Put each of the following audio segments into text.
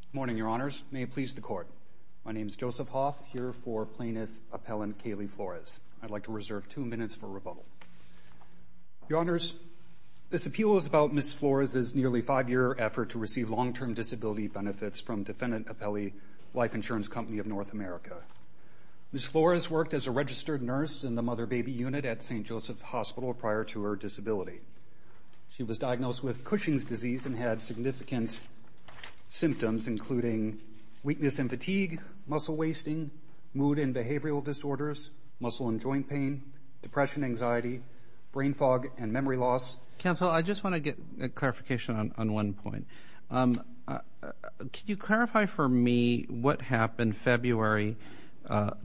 Good morning, Your Honors. May it please the Court. My name is Joseph Hoff, here for Plaintiff Appellant Kaylee Flores. I'd like to reserve two minutes for rebuttal. Your Honors, this appeal is about Ms. Flores' nearly five-year effort to receive long-term disability benefits from Defendant Appellee Life Insurance Company of North America. Ms. Flores worked as a registered nurse in the mother-baby unit at St. Joseph's Hospital prior to her disability. She was diagnosed with Cushing's disease and had significant symptoms including weakness and fatigue, muscle wasting, mood and behavioral disorders, muscle and joint pain, depression, anxiety, brain fog and memory loss. Counsel, I just want to get a clarification on one point. Could you clarify for me what happened February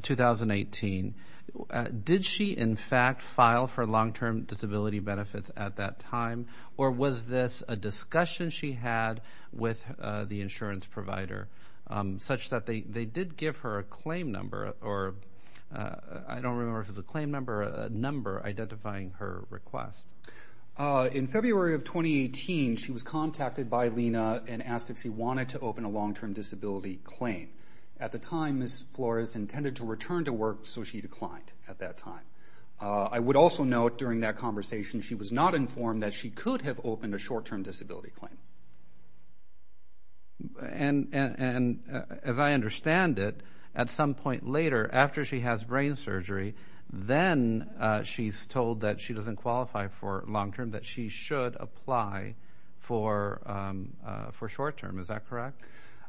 2018? Did she in fact file for long-term disability benefits at that time or was this a discussion she had with the insurance provider such that they did give her a claim number or I don't remember if it was a claim number or a number identifying her request? In February of 2018, she was contacted by Lena and asked if she wanted to open a long-term disability claim. At the time, Ms. Flores intended to return to work so she declined at that time. I would also note during that conversation, she was not informed that she could have opened a short-term disability claim. And as I understand it, at some point later after she has brain surgery, then she's told that she doesn't correct?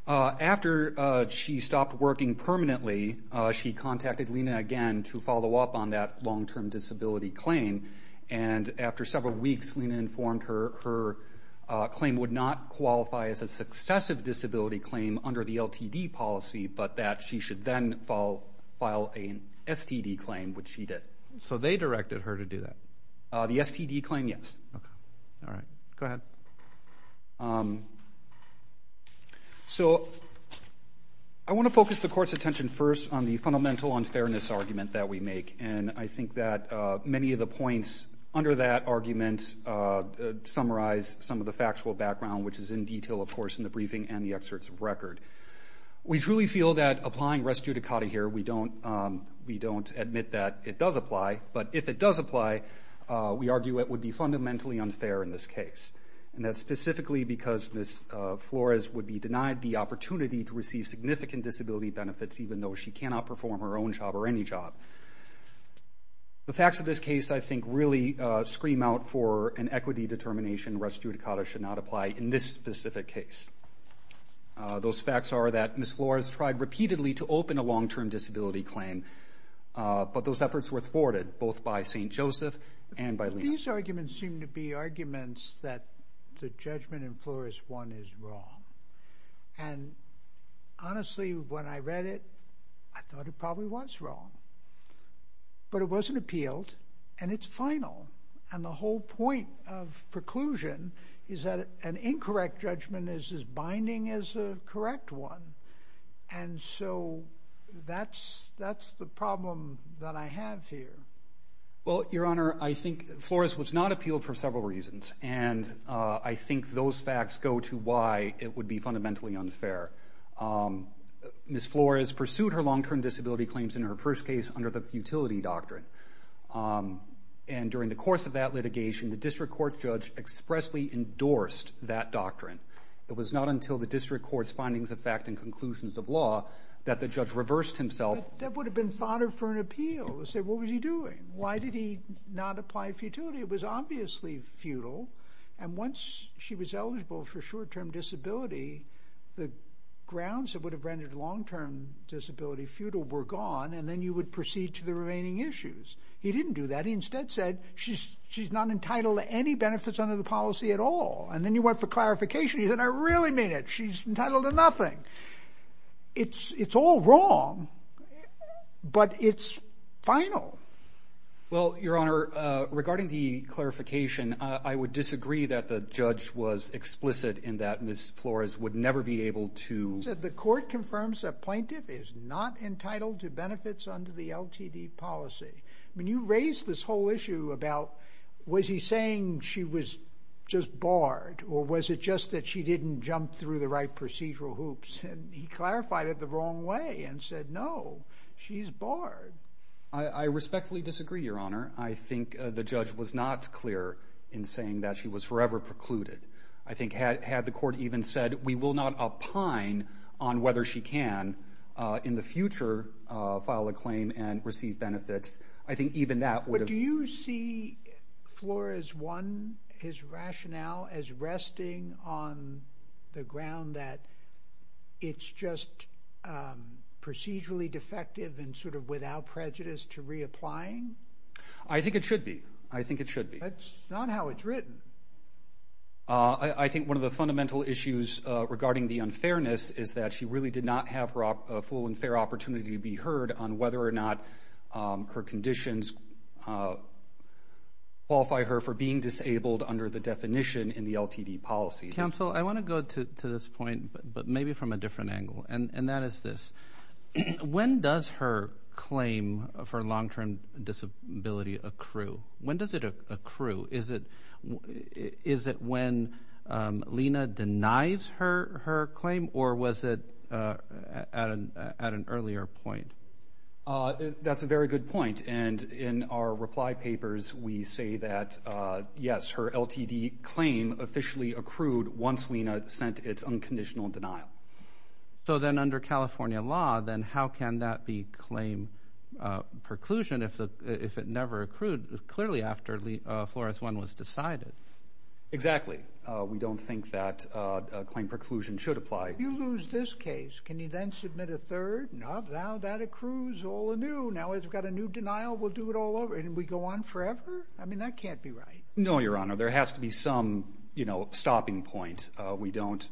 After she stopped working permanently, she contacted Lena again to follow up on that long-term disability claim. And after several weeks, Lena informed her her claim would not qualify as a successive disability claim under the LTD policy but that she should then file an STD claim, which she did. So they directed her to do that? The STD claim, yes. Okay. All right. Go ahead. So I want to focus the court's attention first on the fundamental unfairness argument that we make and I think that many of the points under that argument summarize some of the factual background, which is in detail, of course, in the briefing and the excerpts of record. We truly feel that we don't admit that it does apply, but if it does apply, we argue it would be fundamentally unfair in this case. And that's specifically because Ms. Flores would be denied the opportunity to receive significant disability benefits even though she cannot perform her own job or any job. The facts of this case, I think, really scream out for an equity determination res judicata should not apply in this specific case. Those facts are that Ms. Flores tried repeatedly to open a long-term disability claim, but those efforts were thwarted both by St. Joseph and by Leon. These arguments seem to be arguments that the judgment in Flores 1 is wrong. And honestly, when I read it, I thought it probably was wrong. But it wasn't appealed and it's final. And the whole point of preclusion is that an incorrect judgment is as binding as a correct one. And so that's the problem that I have here. Well, Your Honor, I think Flores was not appealed for several reasons. And I think those facts go to why it would be fundamentally unfair. Ms. Flores pursued her long-term disability claims in her first case under the futility doctrine. And during the course of that litigation, the district court judge expressly endorsed that doctrine. It was not until the district court's findings of fact and conclusions of law that the judge reversed himself. That would have been fodder for an appeal. He said, what was he doing? Why did he not apply futility? It was obviously futile. And once she was eligible for short-term disability, the grounds that would have rendered long-term disability futile were gone. And then you would proceed to the remaining issues. He didn't do that. He instead said, she's not entitled to any benefits under the policy at all. And then you went for clarification. He said, I really mean it. She's entitled to nothing. It's all wrong, but it's final. Well, Your Honor, regarding the clarification, I would disagree that the judge was explicit in that Ms. Flores would never be able to... He said the court confirms a plaintiff is not entitled to benefits under the LTD policy. I mean, you raised this whole issue about, was he saying she was just barred or was it just that she didn't jump through the right procedural hoops? And he clarified it the wrong way and said, no, she's barred. I respectfully disagree, Your Honor. I think the judge was not clear in saying that she was forever precluded. I think had the court even said, we will not opine on whether she can in the future file a claim and receive benefits, I think even that would have... But do you see Flores' rationale as resting on the ground that it's just procedurally defective and sort of without prejudice to reapplying? I think it should be. I think it should be. That's not how it's written. I think one of the fundamental issues regarding the unfairness is that she really did not have a full and fair opportunity to be heard on whether or not her conditions qualify her for being disabled under the definition in the LTD policy. Counsel, I want to go to this point, but maybe from a different angle, and that is this. When does a claim for long-term disability accrue? When does it accrue? Is it when Lena denies her claim, or was it at an earlier point? That's a very good point. And in our reply papers, we say that, yes, her LTD claim officially accrued once Lena sent its unconditional denial. So then under California law, then how can that be claim preclusion if it never accrued clearly after Flores 1 was decided? Exactly. We don't think that claim preclusion should apply. You lose this case. Can you then submit a third? Now that accrues all anew. Now it's got a new denial. We'll do it all over. And we go on forever? I mean, that can't be right. No, Your Honor. There has to be some stopping point. We don't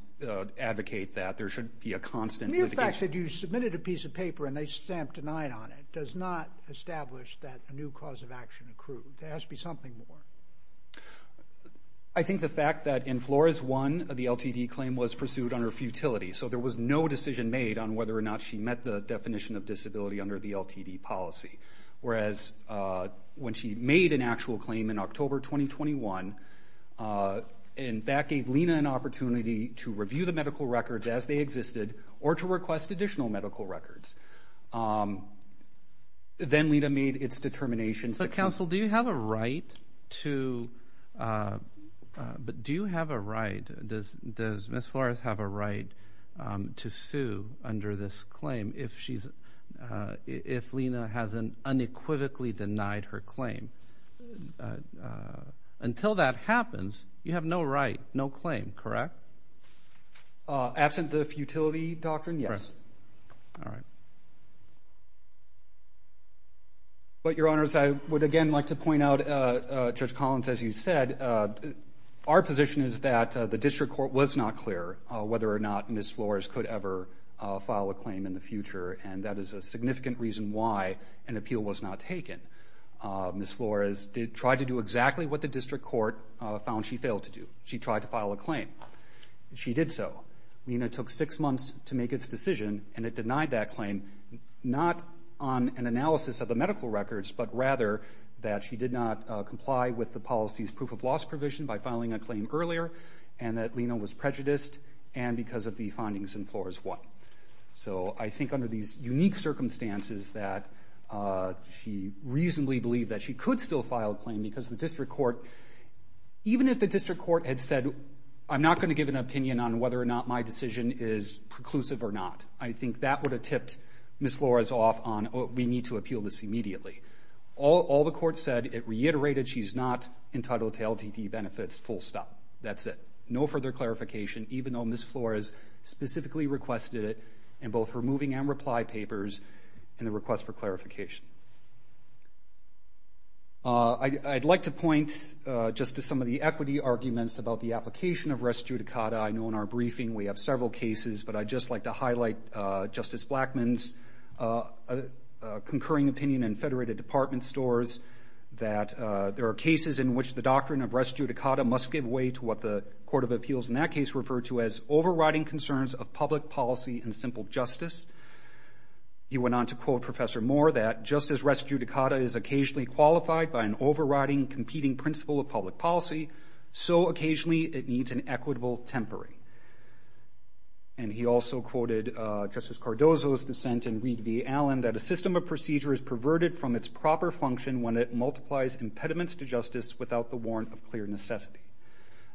advocate that. There should be a constant litigation. As a matter of fact, if you submitted a piece of paper and they stamped denied on it, it does not establish that a new cause of action accrued. There has to be something more. I think the fact that in Flores 1, the LTD claim was pursued under futility. So there was no decision made on whether or not she met the definition of disability under the LTD policy. Whereas when she made an actual claim in October 2021, and that gave Lena an opportunity to review the medical records as they existed, or to request additional medical records. Then Lena made its determination. But counsel, do you have a right to, but do you have a right, does Ms. Flores have a right to sue under this claim if Lena has unequivocally denied her claim? Until that happens, you have no right, no claim, correct? Absent the futility doctrine, yes. All right. But Your Honors, I would again like to point out, Judge Collins, as you said, our position is that the district court was not clear whether or not Ms. Flores could ever file a claim in the future. And that is a significant reason why an appeal was not taken. Ms. Flores tried to do exactly what the district court found she failed to do. She tried to file a claim. She did so. Lena took six months to make its decision, and it denied that claim, not on an analysis of the medical records, but rather that she did not comply with the policy's proof of loss provision by filing a claim earlier, and that Lena was prejudiced, and because of the findings in Flores 1. So I think under these unique circumstances that she reasonably believed that she could still file a claim because the district court, even if the district court had said, I'm not going to give an opinion on whether or not my decision is preclusive or not, I think that would have tipped Ms. Flores off on, we need to appeal this immediately. All the court said, it reiterated she's not entitled to LTD benefits, full stop. That's it. No further clarification, even though Ms. Flores specifically requested it, in both her moving and reply papers, and the request for clarification. I'd like to point just to some of the equity arguments about the application of res judicata. I know in our briefing we have several cases, but I'd just like to highlight Justice Blackmun's concurring opinion in federated department stores that there are cases in which the doctrine of res judicata must give way to what the Court of Appeals in that case referred to as overriding concerns of public policy and simple justice. He went on to quote Professor Moore that just as res judicata is occasionally qualified by an overriding competing principle of public policy, so occasionally it needs an equitable temporary. And he also quoted Justice Cardozo's dissent in Reed v. Allen that a system of procedure is perverted from its proper function when it multiplies impediments to justice without the warrant of clear necessity.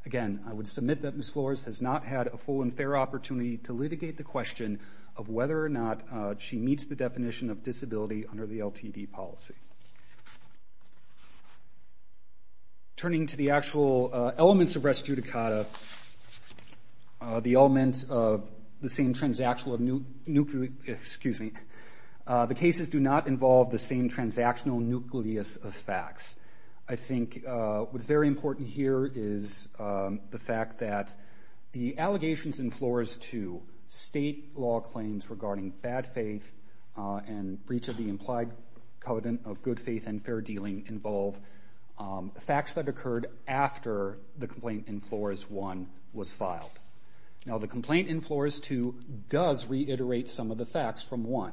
Again, I would submit that Ms. Flores has not had a full and fair opportunity to litigate the question of whether or not she meets the definition of disability under the LTD policy. Turning to the actual elements of res judicata, the element of the same transactional, excuse me, the cases do not involve the same transactional nucleus of facts. I think what's very important here is the fact that the allegations in Flores 2 state law claims regarding bad faith and breach of the implied covenant of good faith and fair dealing involve facts that occurred after the complaint in Flores 1 was filed. Now the complaint in Flores 2 does reiterate some of the facts from 1.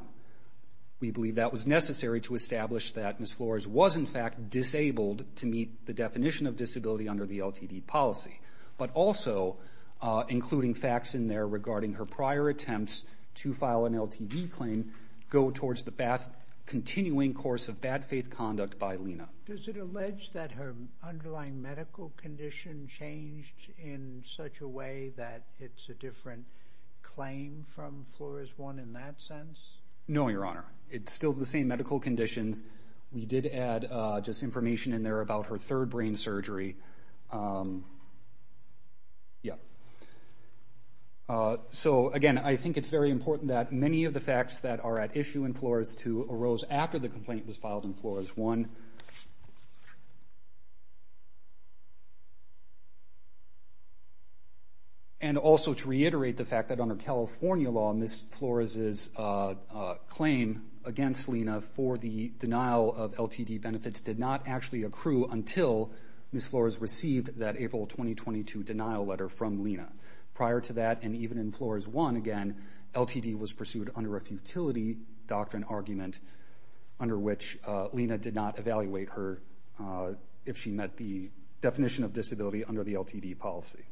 We believe that was necessary to establish that Ms. Flores was in fact disabled to meet the definition of disability under the LTD policy. But also, including facts in there regarding her prior attempts to file an LTD claim go towards the continuing course of bad faith conduct by Lena. Does it allege that her underlying medical condition changed in such a way that it's a different claim from Flores 1 in that sense? No, Your Honor. It's still the same medical conditions. We did add just information in there about her third brain surgery. So again, I think it's very important that many of the facts that are at issue in Flores 2 arose after the complaint was filed in Flores 1. And also to reiterate the fact that under California law, Ms. Flores's claim against Lena for the denial of LTD benefits did not actually accrue until Ms. Flores received that April 2022 denial letter from Lena. Prior to that, and even in Flores 1 again, LTD was pursued under a futility doctrine argument under which Lena did not evaluate her if she met the definition of disability under the LTD policy.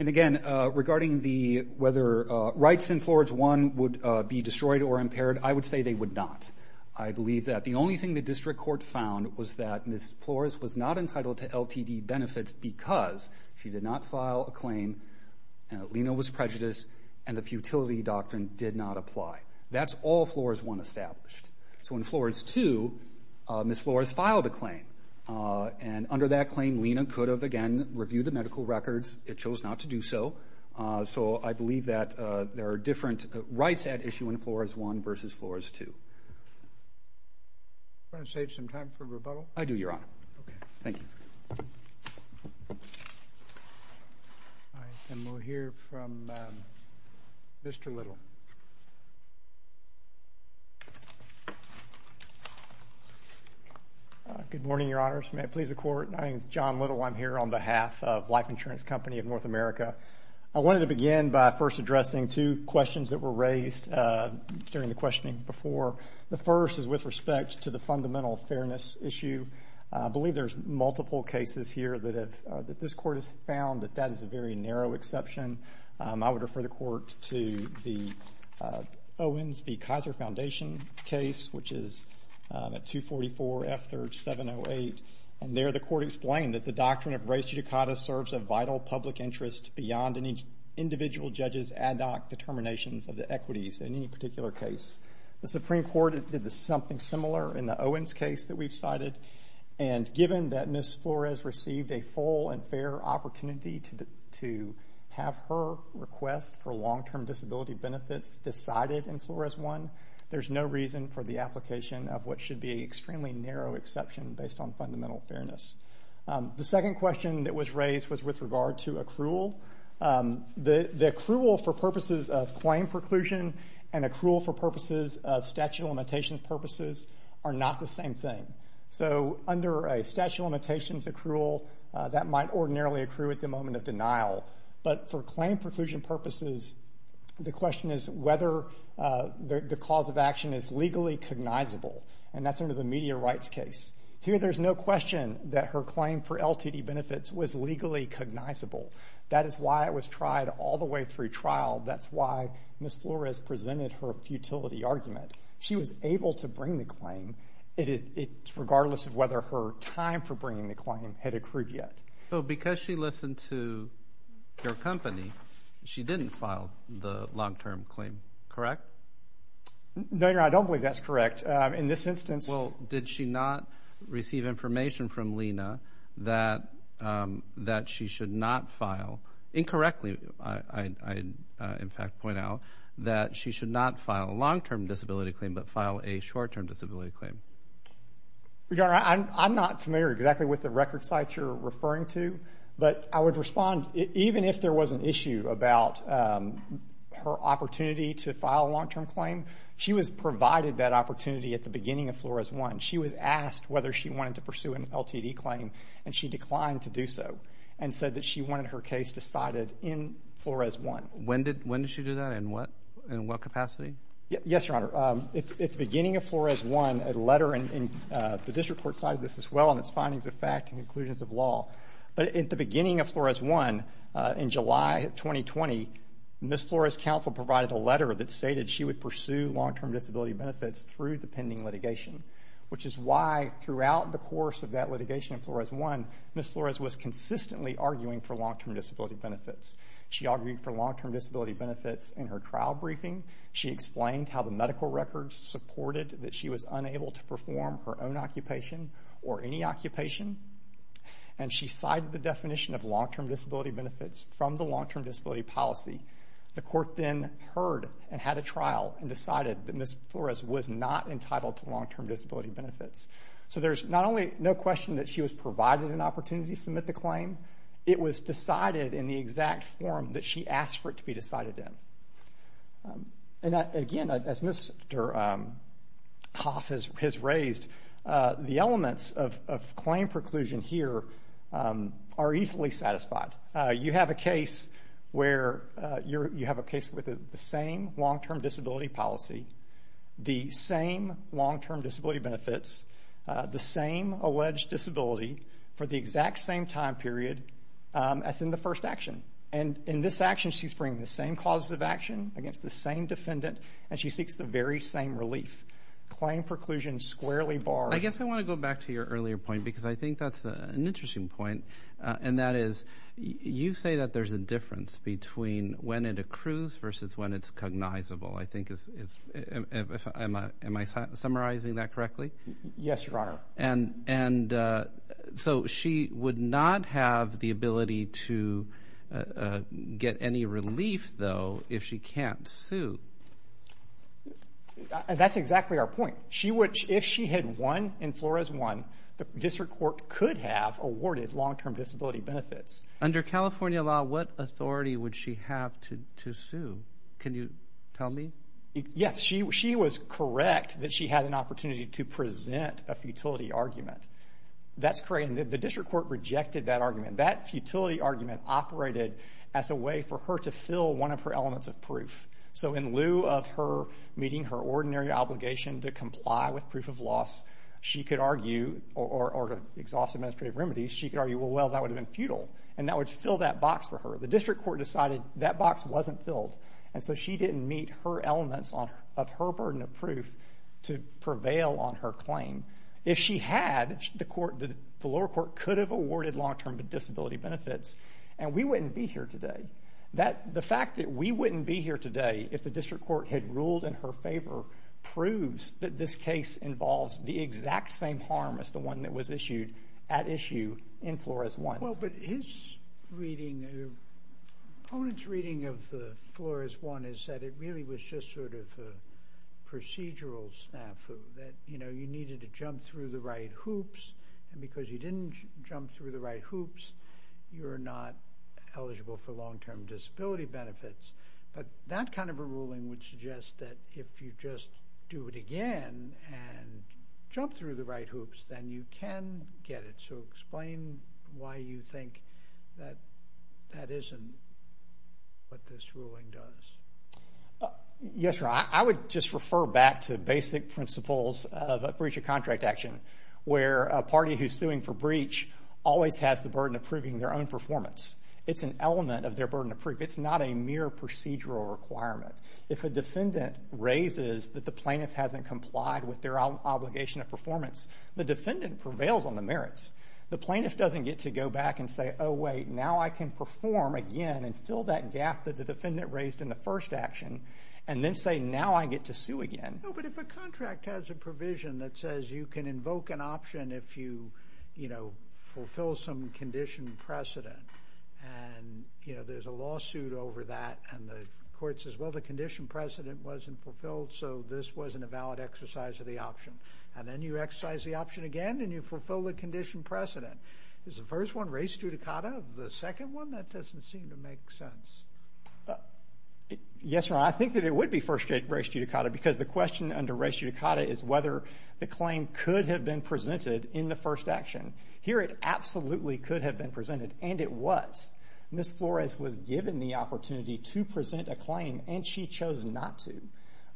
And again, regarding whether rights in Flores 1 would be destroyed or impaired, I would say they would not. I believe that the only thing the District Court found was that Ms. Flores was not entitled to LTD benefits because she did not file a claim, and Lena was prejudiced, and the futility doctrine did not apply. That's all Flores 1 established. So in Flores 2, Ms. Flores filed a claim. And under that claim, Lena could have again reviewed the medical records. It chose not to do so. So I believe that there are different rights at issue in Flores 1 versus Flores 2. Do you want to save some time for rebuttal? I do, Your Honor. Okay. Thank you. All right. And we'll hear from Mr. Little. Good morning, Your Honors. May it please the Court? My name is John Little. I'm here on behalf of Life Insurance Company of North America. I wanted to begin by first addressing two questions that were raised during the questioning before. The first is with respect to the fundamental fairness issue. I believe there's multiple cases here that this Court has found that that is a very narrow exception. I would refer the Court to the Owens v. Kaiser Foundation case, which is at 244 F-3708. And there, the Court explained that the doctrine of res judicata serves a vital public interest beyond any individual judge's ad hoc determinations of the equities in any we've cited. And given that Ms. Flores received a full and fair opportunity to have her request for long-term disability benefits decided in Flores 1, there's no reason for the application of what should be an extremely narrow exception based on fundamental fairness. The second question that was raised was with regard to accrual. The accrual for purposes of claim preclusion and accrual for purposes of statute of limitations purposes are not the same thing. So, under a statute of limitations accrual, that might ordinarily accrue at the moment of denial. But for claim preclusion purposes, the question is whether the cause of action is legally cognizable. And that's under the media rights case. Here, there's no question that her claim for LTD benefits was legally cognizable. That is why it was tried all the way through trial. That's why Ms. Flores presented her futility argument. She was able to bring the claim regardless of whether her time for bringing the claim had accrued yet. So, because she listened to your company, she didn't file the long-term claim, correct? No, Your Honor. I don't believe that's correct. In this instance... Well, did she not receive information from Lena that she should not file incorrectly? I, in fact, point out that she should not file a long-term disability claim, but file a short-term disability claim. Your Honor, I'm not familiar exactly with the record sites you're referring to. But I would respond, even if there was an issue about her opportunity to file a long-term claim, she was provided that opportunity at the beginning of Flores 1. She was asked whether she wanted to pursue an LTD claim, and she declined to do so, and said that she decided in Flores 1. When did she do that? In what capacity? Yes, Your Honor. At the beginning of Flores 1, a letter in the district court cited this as well in its findings of fact and conclusions of law. But at the beginning of Flores 1, in July 2020, Ms. Flores' counsel provided a letter that stated she would pursue long-term disability benefits through the pending litigation, which is why throughout the course of that litigation in Flores 1, Ms. Flores was consistently arguing for long-term disability benefits. She argued for long-term disability benefits in her trial briefing. She explained how the medical records supported that she was unable to perform her own occupation or any occupation, and she cited the definition of long-term disability benefits from the long-term disability policy. The court then heard and had a trial and decided that Ms. Flores was not entitled to long-term disability benefits. So there's not only no question that she was provided an opportunity to submit the claim, it was decided in the exact form that she asked for it to be decided in. And again, as Mr. Hoff has raised, the elements of claim preclusion here are easily satisfied. You have a case where you have a case with the same long-term disability policy, the same long-term disability benefits, the same alleged disability for the exact same time period as in the first action. And in this action, she's bringing the same causes of action against the same defendant, and she seeks the very same relief. Claim preclusion squarely bars... I guess I want to go back to your earlier point because I think that's an interesting point, and that is, you say that there's a difference between when it accrues versus when it's cognizable. Am I summarizing that correctly? Yes, Your Honor. And so she would not have the ability to get any relief, though, if she can't sue. That's exactly our point. If she had won and Flores won, the district court could have awarded long-term disability benefits. Under California law, what authority would she have to sue? Can you tell me? Yes, she was correct that she had an opportunity to present a futility argument. That's correct. And the district court rejected that argument. That futility argument operated as a way for her to fill one of her elements of proof. So in lieu of her meeting her ordinary obligation to comply with proof of loss, she could argue, or to exhaust administrative remedies, she could argue, well, well, that would have been futile, and that would fill that box for her. The district court decided that box wasn't filled, and so she didn't meet her elements of her burden of proof to prevail on her claim. If she had, the lower court could have awarded long-term disability benefits, and we wouldn't be here today. The fact that we wouldn't be here today if the district court had ruled in her favor proves that this case involves the exact same harm as the one that was issued at issue in Flores I. Well, but his reading, the opponent's reading of the Flores I is that it really was just sort of a procedural snafu, that, you know, you needed to jump through the right hoops, and because you didn't jump through the right hoops, you're not eligible for long-term disability benefits. But that kind of a ruling would suggest that if you just do it again and jump through the right hoops, then you can get it. So explain why you think that that isn't what this ruling does. Yes, Your Honor, I would just refer back to basic principles of a breach of contract action, where a party who's suing for breach always has the burden of proving their own performance. It's an element of their burden of proof. It's not a mere procedural requirement. If a defendant raises that the plaintiff hasn't complied with their obligation of performance, the defendant prevails on the merits. The plaintiff doesn't get to go back and say, oh wait, now I can perform again and fill that gap that the defendant raised in the first action, and then say, now I get to sue again. No, but if a contract has a provision that says you can invoke an option if you, you know, fulfill some condition precedent, and, you know, there's a lawsuit over that, and the court says, well, the condition precedent wasn't fulfilled, so this wasn't a valid exercise of the option. And then you exercise the option again, and you fulfill the condition precedent. Is the first one res judicata? The second one, that doesn't seem to make sense. Yes, Your Honor, I think that it would be first res judicata, because the question under res judicata is whether the claim could have been presented in the first action. Here it absolutely could have been presented, and it was. Ms. Flores was given the opportunity to present a claim, and she chose not to.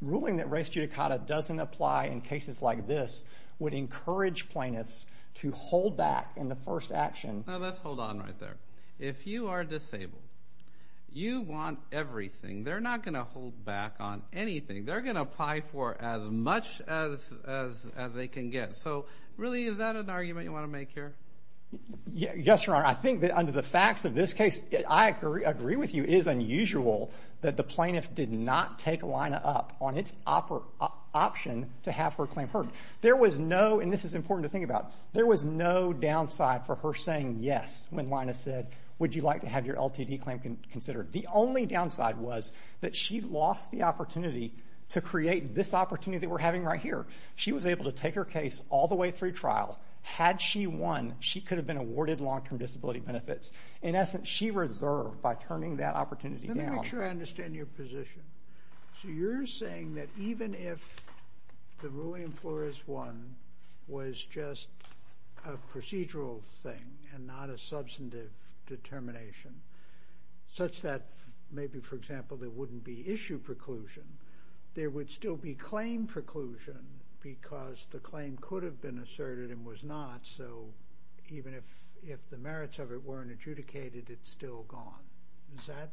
Ruling that res judicata doesn't apply in cases like this would encourage plaintiffs to hold back in the first action. Now, let's hold on right there. If you are disabled, you want everything. They're not going to hold back on anything. They're going to apply for as much as they can get. So, really, is that an argument you want to make here? Yes, Your Honor. I think that under the facts of this case, I agree with you, it is unusual that the plaintiff did not take Lina up on its option to have her claim heard. There was no, and this is important to think about, there was no downside for her saying yes when Lina said, would you like to have your LTD claim considered? The only downside was that she lost the opportunity to create this opportunity that we're having right here. She was able to take her case all the way through trial. Had she won, she could have been awarded long-term disability benefits. In essence, she reserved by turning that opportunity down. Let me make sure I understand your position. So you're saying that even if the ruling in Flores 1 was just a procedural thing and not a substantive determination, such that maybe, for example, there wouldn't be issue preclusion, there would still be claim preclusion because the claim could have been asserted and was not. So even if the merits of it weren't adjudicated, it's still gone. Is that,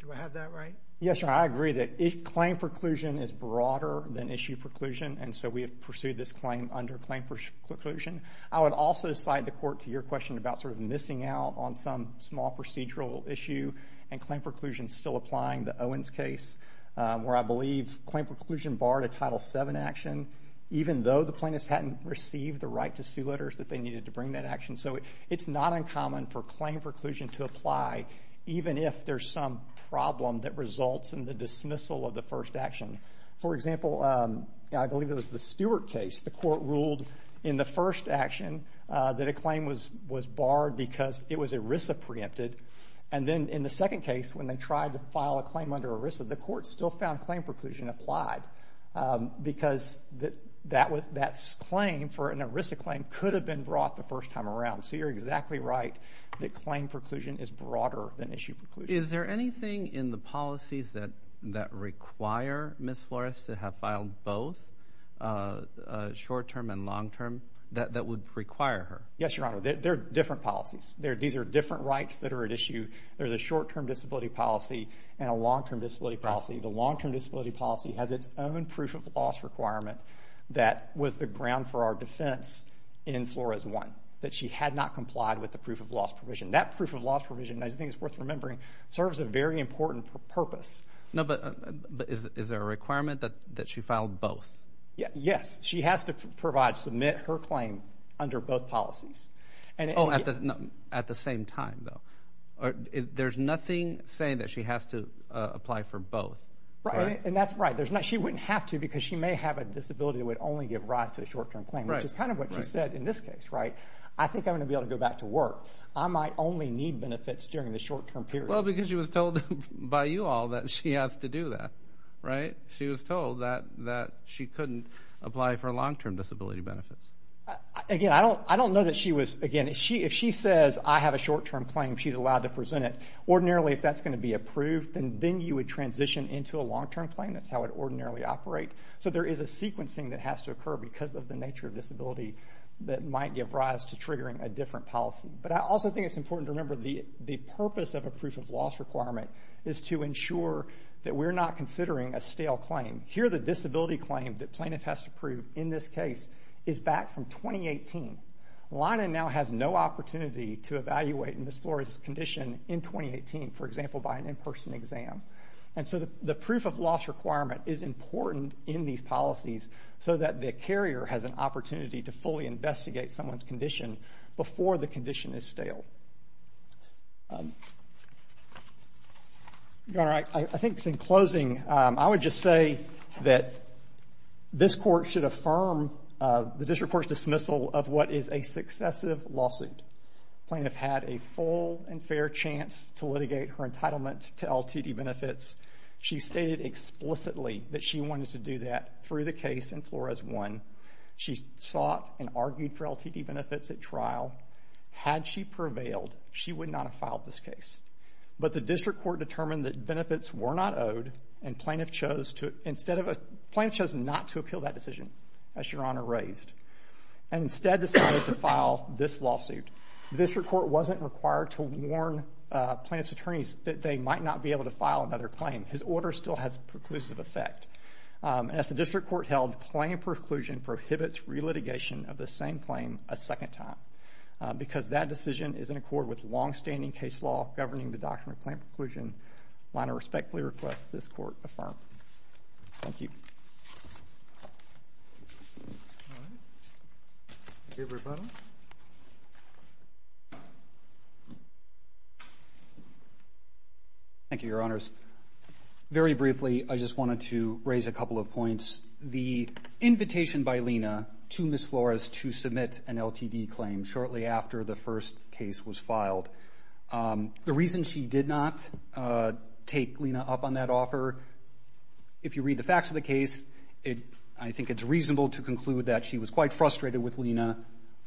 do I have that right? Yes, Your Honor. I agree that claim preclusion is broader than issue preclusion and so we have pursued this claim under claim preclusion. I would also cite the court to your question about sort of missing out on some small procedural issue and claim preclusion still applying the Owens case where I believe claim preclusion barred a Title VII action even though the plaintiffs hadn't received the right to see letters that they needed to bring that action. So it's not uncommon for claim preclusion to apply even if there's some problem that results in the dismissal of the first action. For example, I believe it was the Stewart case. The court ruled in the first action that a claim was barred because it was ERISA preempted and then in the claim under ERISA, the court still found claim preclusion applied because that claim for an ERISA claim could have been brought the first time around. So you're exactly right that claim preclusion is broader than issue preclusion. Is there anything in the policies that require Ms. Flores to have filed both short-term and long-term that would require her? Yes, Your Honor. There are different policies. These are different rights that are at issue. There's a short-term disability policy and a long-term disability policy. The long-term disability policy has its own proof of loss requirement that was the ground for our defense in Flores 1, that she had not complied with the proof of loss provision. That proof of loss provision, I think it's worth remembering, serves a very important purpose. No, but is there a requirement that she filed both? Yes. She has to provide, submit her claim under both policies. Oh, at the same time though. There's nothing saying that she has to apply for both. Right, and that's right. She wouldn't have to because she may have a disability that would only give rise to a short-term claim, which is kind of what you said in this case, right? I think I'm going to be able to go back to work. I might only need benefits during the short-term period. Well, because she was told by you all that she has to do that, right? She was told that she couldn't apply for long-term disability benefits. Again, I don't know that she was, again, if she says I have a short-term claim, she's allowed to present it. Ordinarily, if that's going to be approved, then you would transition into a long-term claim. That's how it would ordinarily operate. So there is a sequencing that has to occur because of the nature of disability that might give rise to triggering a different policy. But I also think it's important to remember the purpose of a proof of loss requirement is to ensure that we're not considering a stale claim. Here, the disability claim that plaintiff has to prove in this case is back from 2018. Lina now has no opportunity to evaluate Ms. Flores' condition in 2018, for example, by an in-person exam. And so the proof of loss requirement is important in these policies so that the carrier has an opportunity to fully investigate someone's condition before the condition is stale. I think in closing, I would just say that this court should affirm the district court's dismissal of what is a successive lawsuit. Plaintiff had a full and fair chance to litigate her entitlement to LTD benefits. She stated explicitly that she wanted to do that through the case in Flores 1. She sought and argued for LTD benefits at trial. Had she prevailed, she would not have filed this case. But the district court determined that benefits were not owed, and plaintiff chose not to appeal that decision, as Your Honor raised, and instead decided to file this lawsuit. The district court wasn't required to warn plaintiff's attorneys that they might not be able to file another claim. His order still has a preclusive effect. As the district court held, claim preclusion prohibits re-litigation of the same claim a second time, because that decision is in accord with long-standing case governing the doctrine of claim preclusion. I want to respectfully request this court affirm. Thank you, Your Honors. Very briefly, I just wanted to raise a couple of points. The invitation by Lena to Ms. Flores to submit an LTD claim shortly after the first case was filed the reason she did not take Lena up on that offer, if you read the facts of the case, I think it's reasonable to conclude that she was quite frustrated with Lena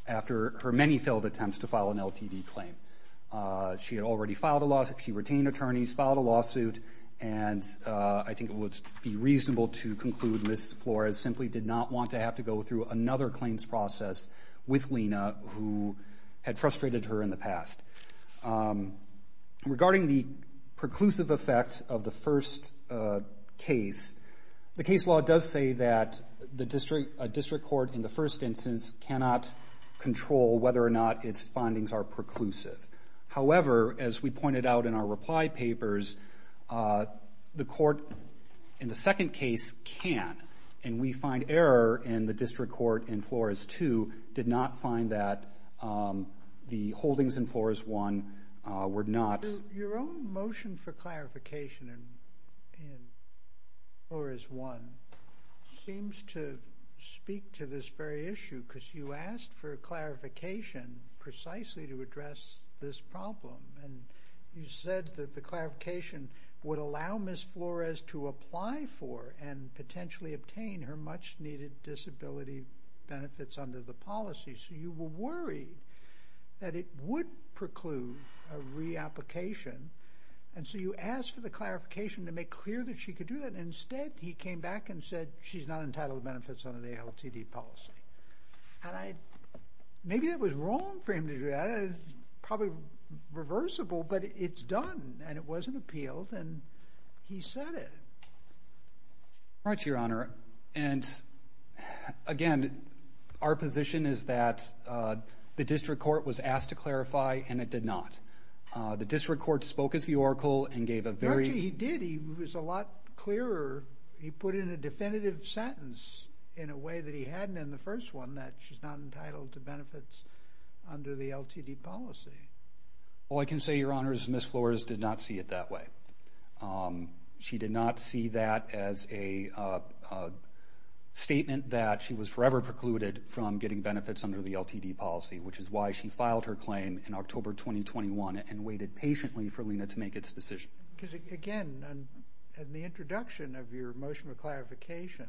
after her many failed attempts to file an LTD claim. She had already filed a lawsuit, she retained attorneys, filed a lawsuit, and I think it would be reasonable to conclude Ms. Flores simply did not want to have to go through another claims process with Lena who had failed. Regarding the preclusive effect of the first case, the case law does say that the district court in the first instance cannot control whether or not its findings are preclusive. However, as we pointed out in our reply papers, the court in the second case can, and we find error in the district court in Flores 2, did not find that the holdings in Flores 1 were not... Your own motion for clarification in Flores 1 seems to speak to this very issue because you asked for a clarification precisely to address this problem, and you said that the clarification would allow Ms. Flores to apply for and potentially obtain her much-needed disability benefits under the policy, so you were worried that it would preclude a reapplication, and so you asked for the clarification to make clear that she could do that. Instead, he came back and said she's not entitled to benefits under the LTD policy. Maybe that was wrong for him to do that. It's probably reversible, but it's done, and it wasn't appealed, and he said it. Right, Your Honor, and again, our position is that the district court was asked to clarify, and it did not. The district court spoke as the oracle and gave a very... He did. He was a lot clearer. He put in a definitive sentence in a way that he hadn't in the first one that she's not entitled to benefits under the LTD policy. Well, I can say, Your Honors, Ms. Flores did not see it that way. She did not see that as a statement that she was forever precluded from getting benefits under the LTD policy, which is why she filed her claim in October 2021 and waited patiently for Lena to make its decision. Because again, in the introduction of your motion of clarification,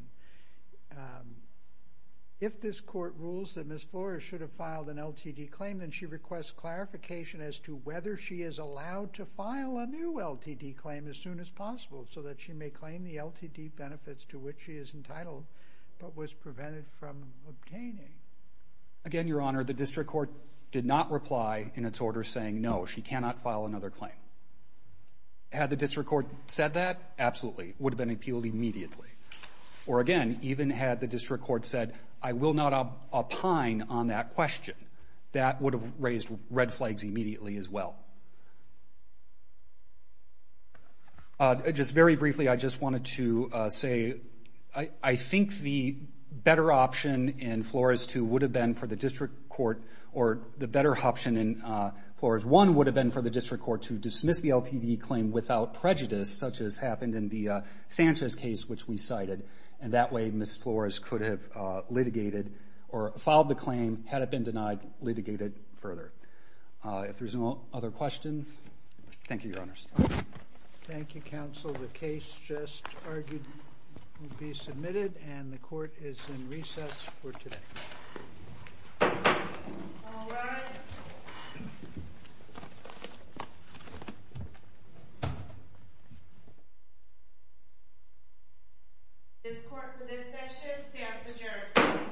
if this court rules that Ms. Flores should have filed an LTD claim, then she requests clarification as to whether she is allowed to file a new LTD claim as soon as possible, so that she may claim the LTD benefits to which she is entitled, but was prevented from obtaining. Again, Your Honor, the district court did not reply in its order saying, no, she cannot file another claim. Had the district court said that, absolutely, would have been appealed immediately. Or again, even had the district court said, I will not opine on that question, that would have raised red flags immediately as well. Just very briefly, I just wanted to say, I think the better option in Flores 2 would have been for the district court, or the better option in Flores 1 would have been for the district court to dismiss the LTD claim without prejudice, such as happened in the Sanchez case, which we cited. And that way, Ms. Flores could have litigated, or filed the claim, had it been denied, litigated further. If there's no other questions, thank you, Your Honors. Thank you, counsel. The case just argued will be submitted, and the court is in recess for today. This court for this session stands adjourned.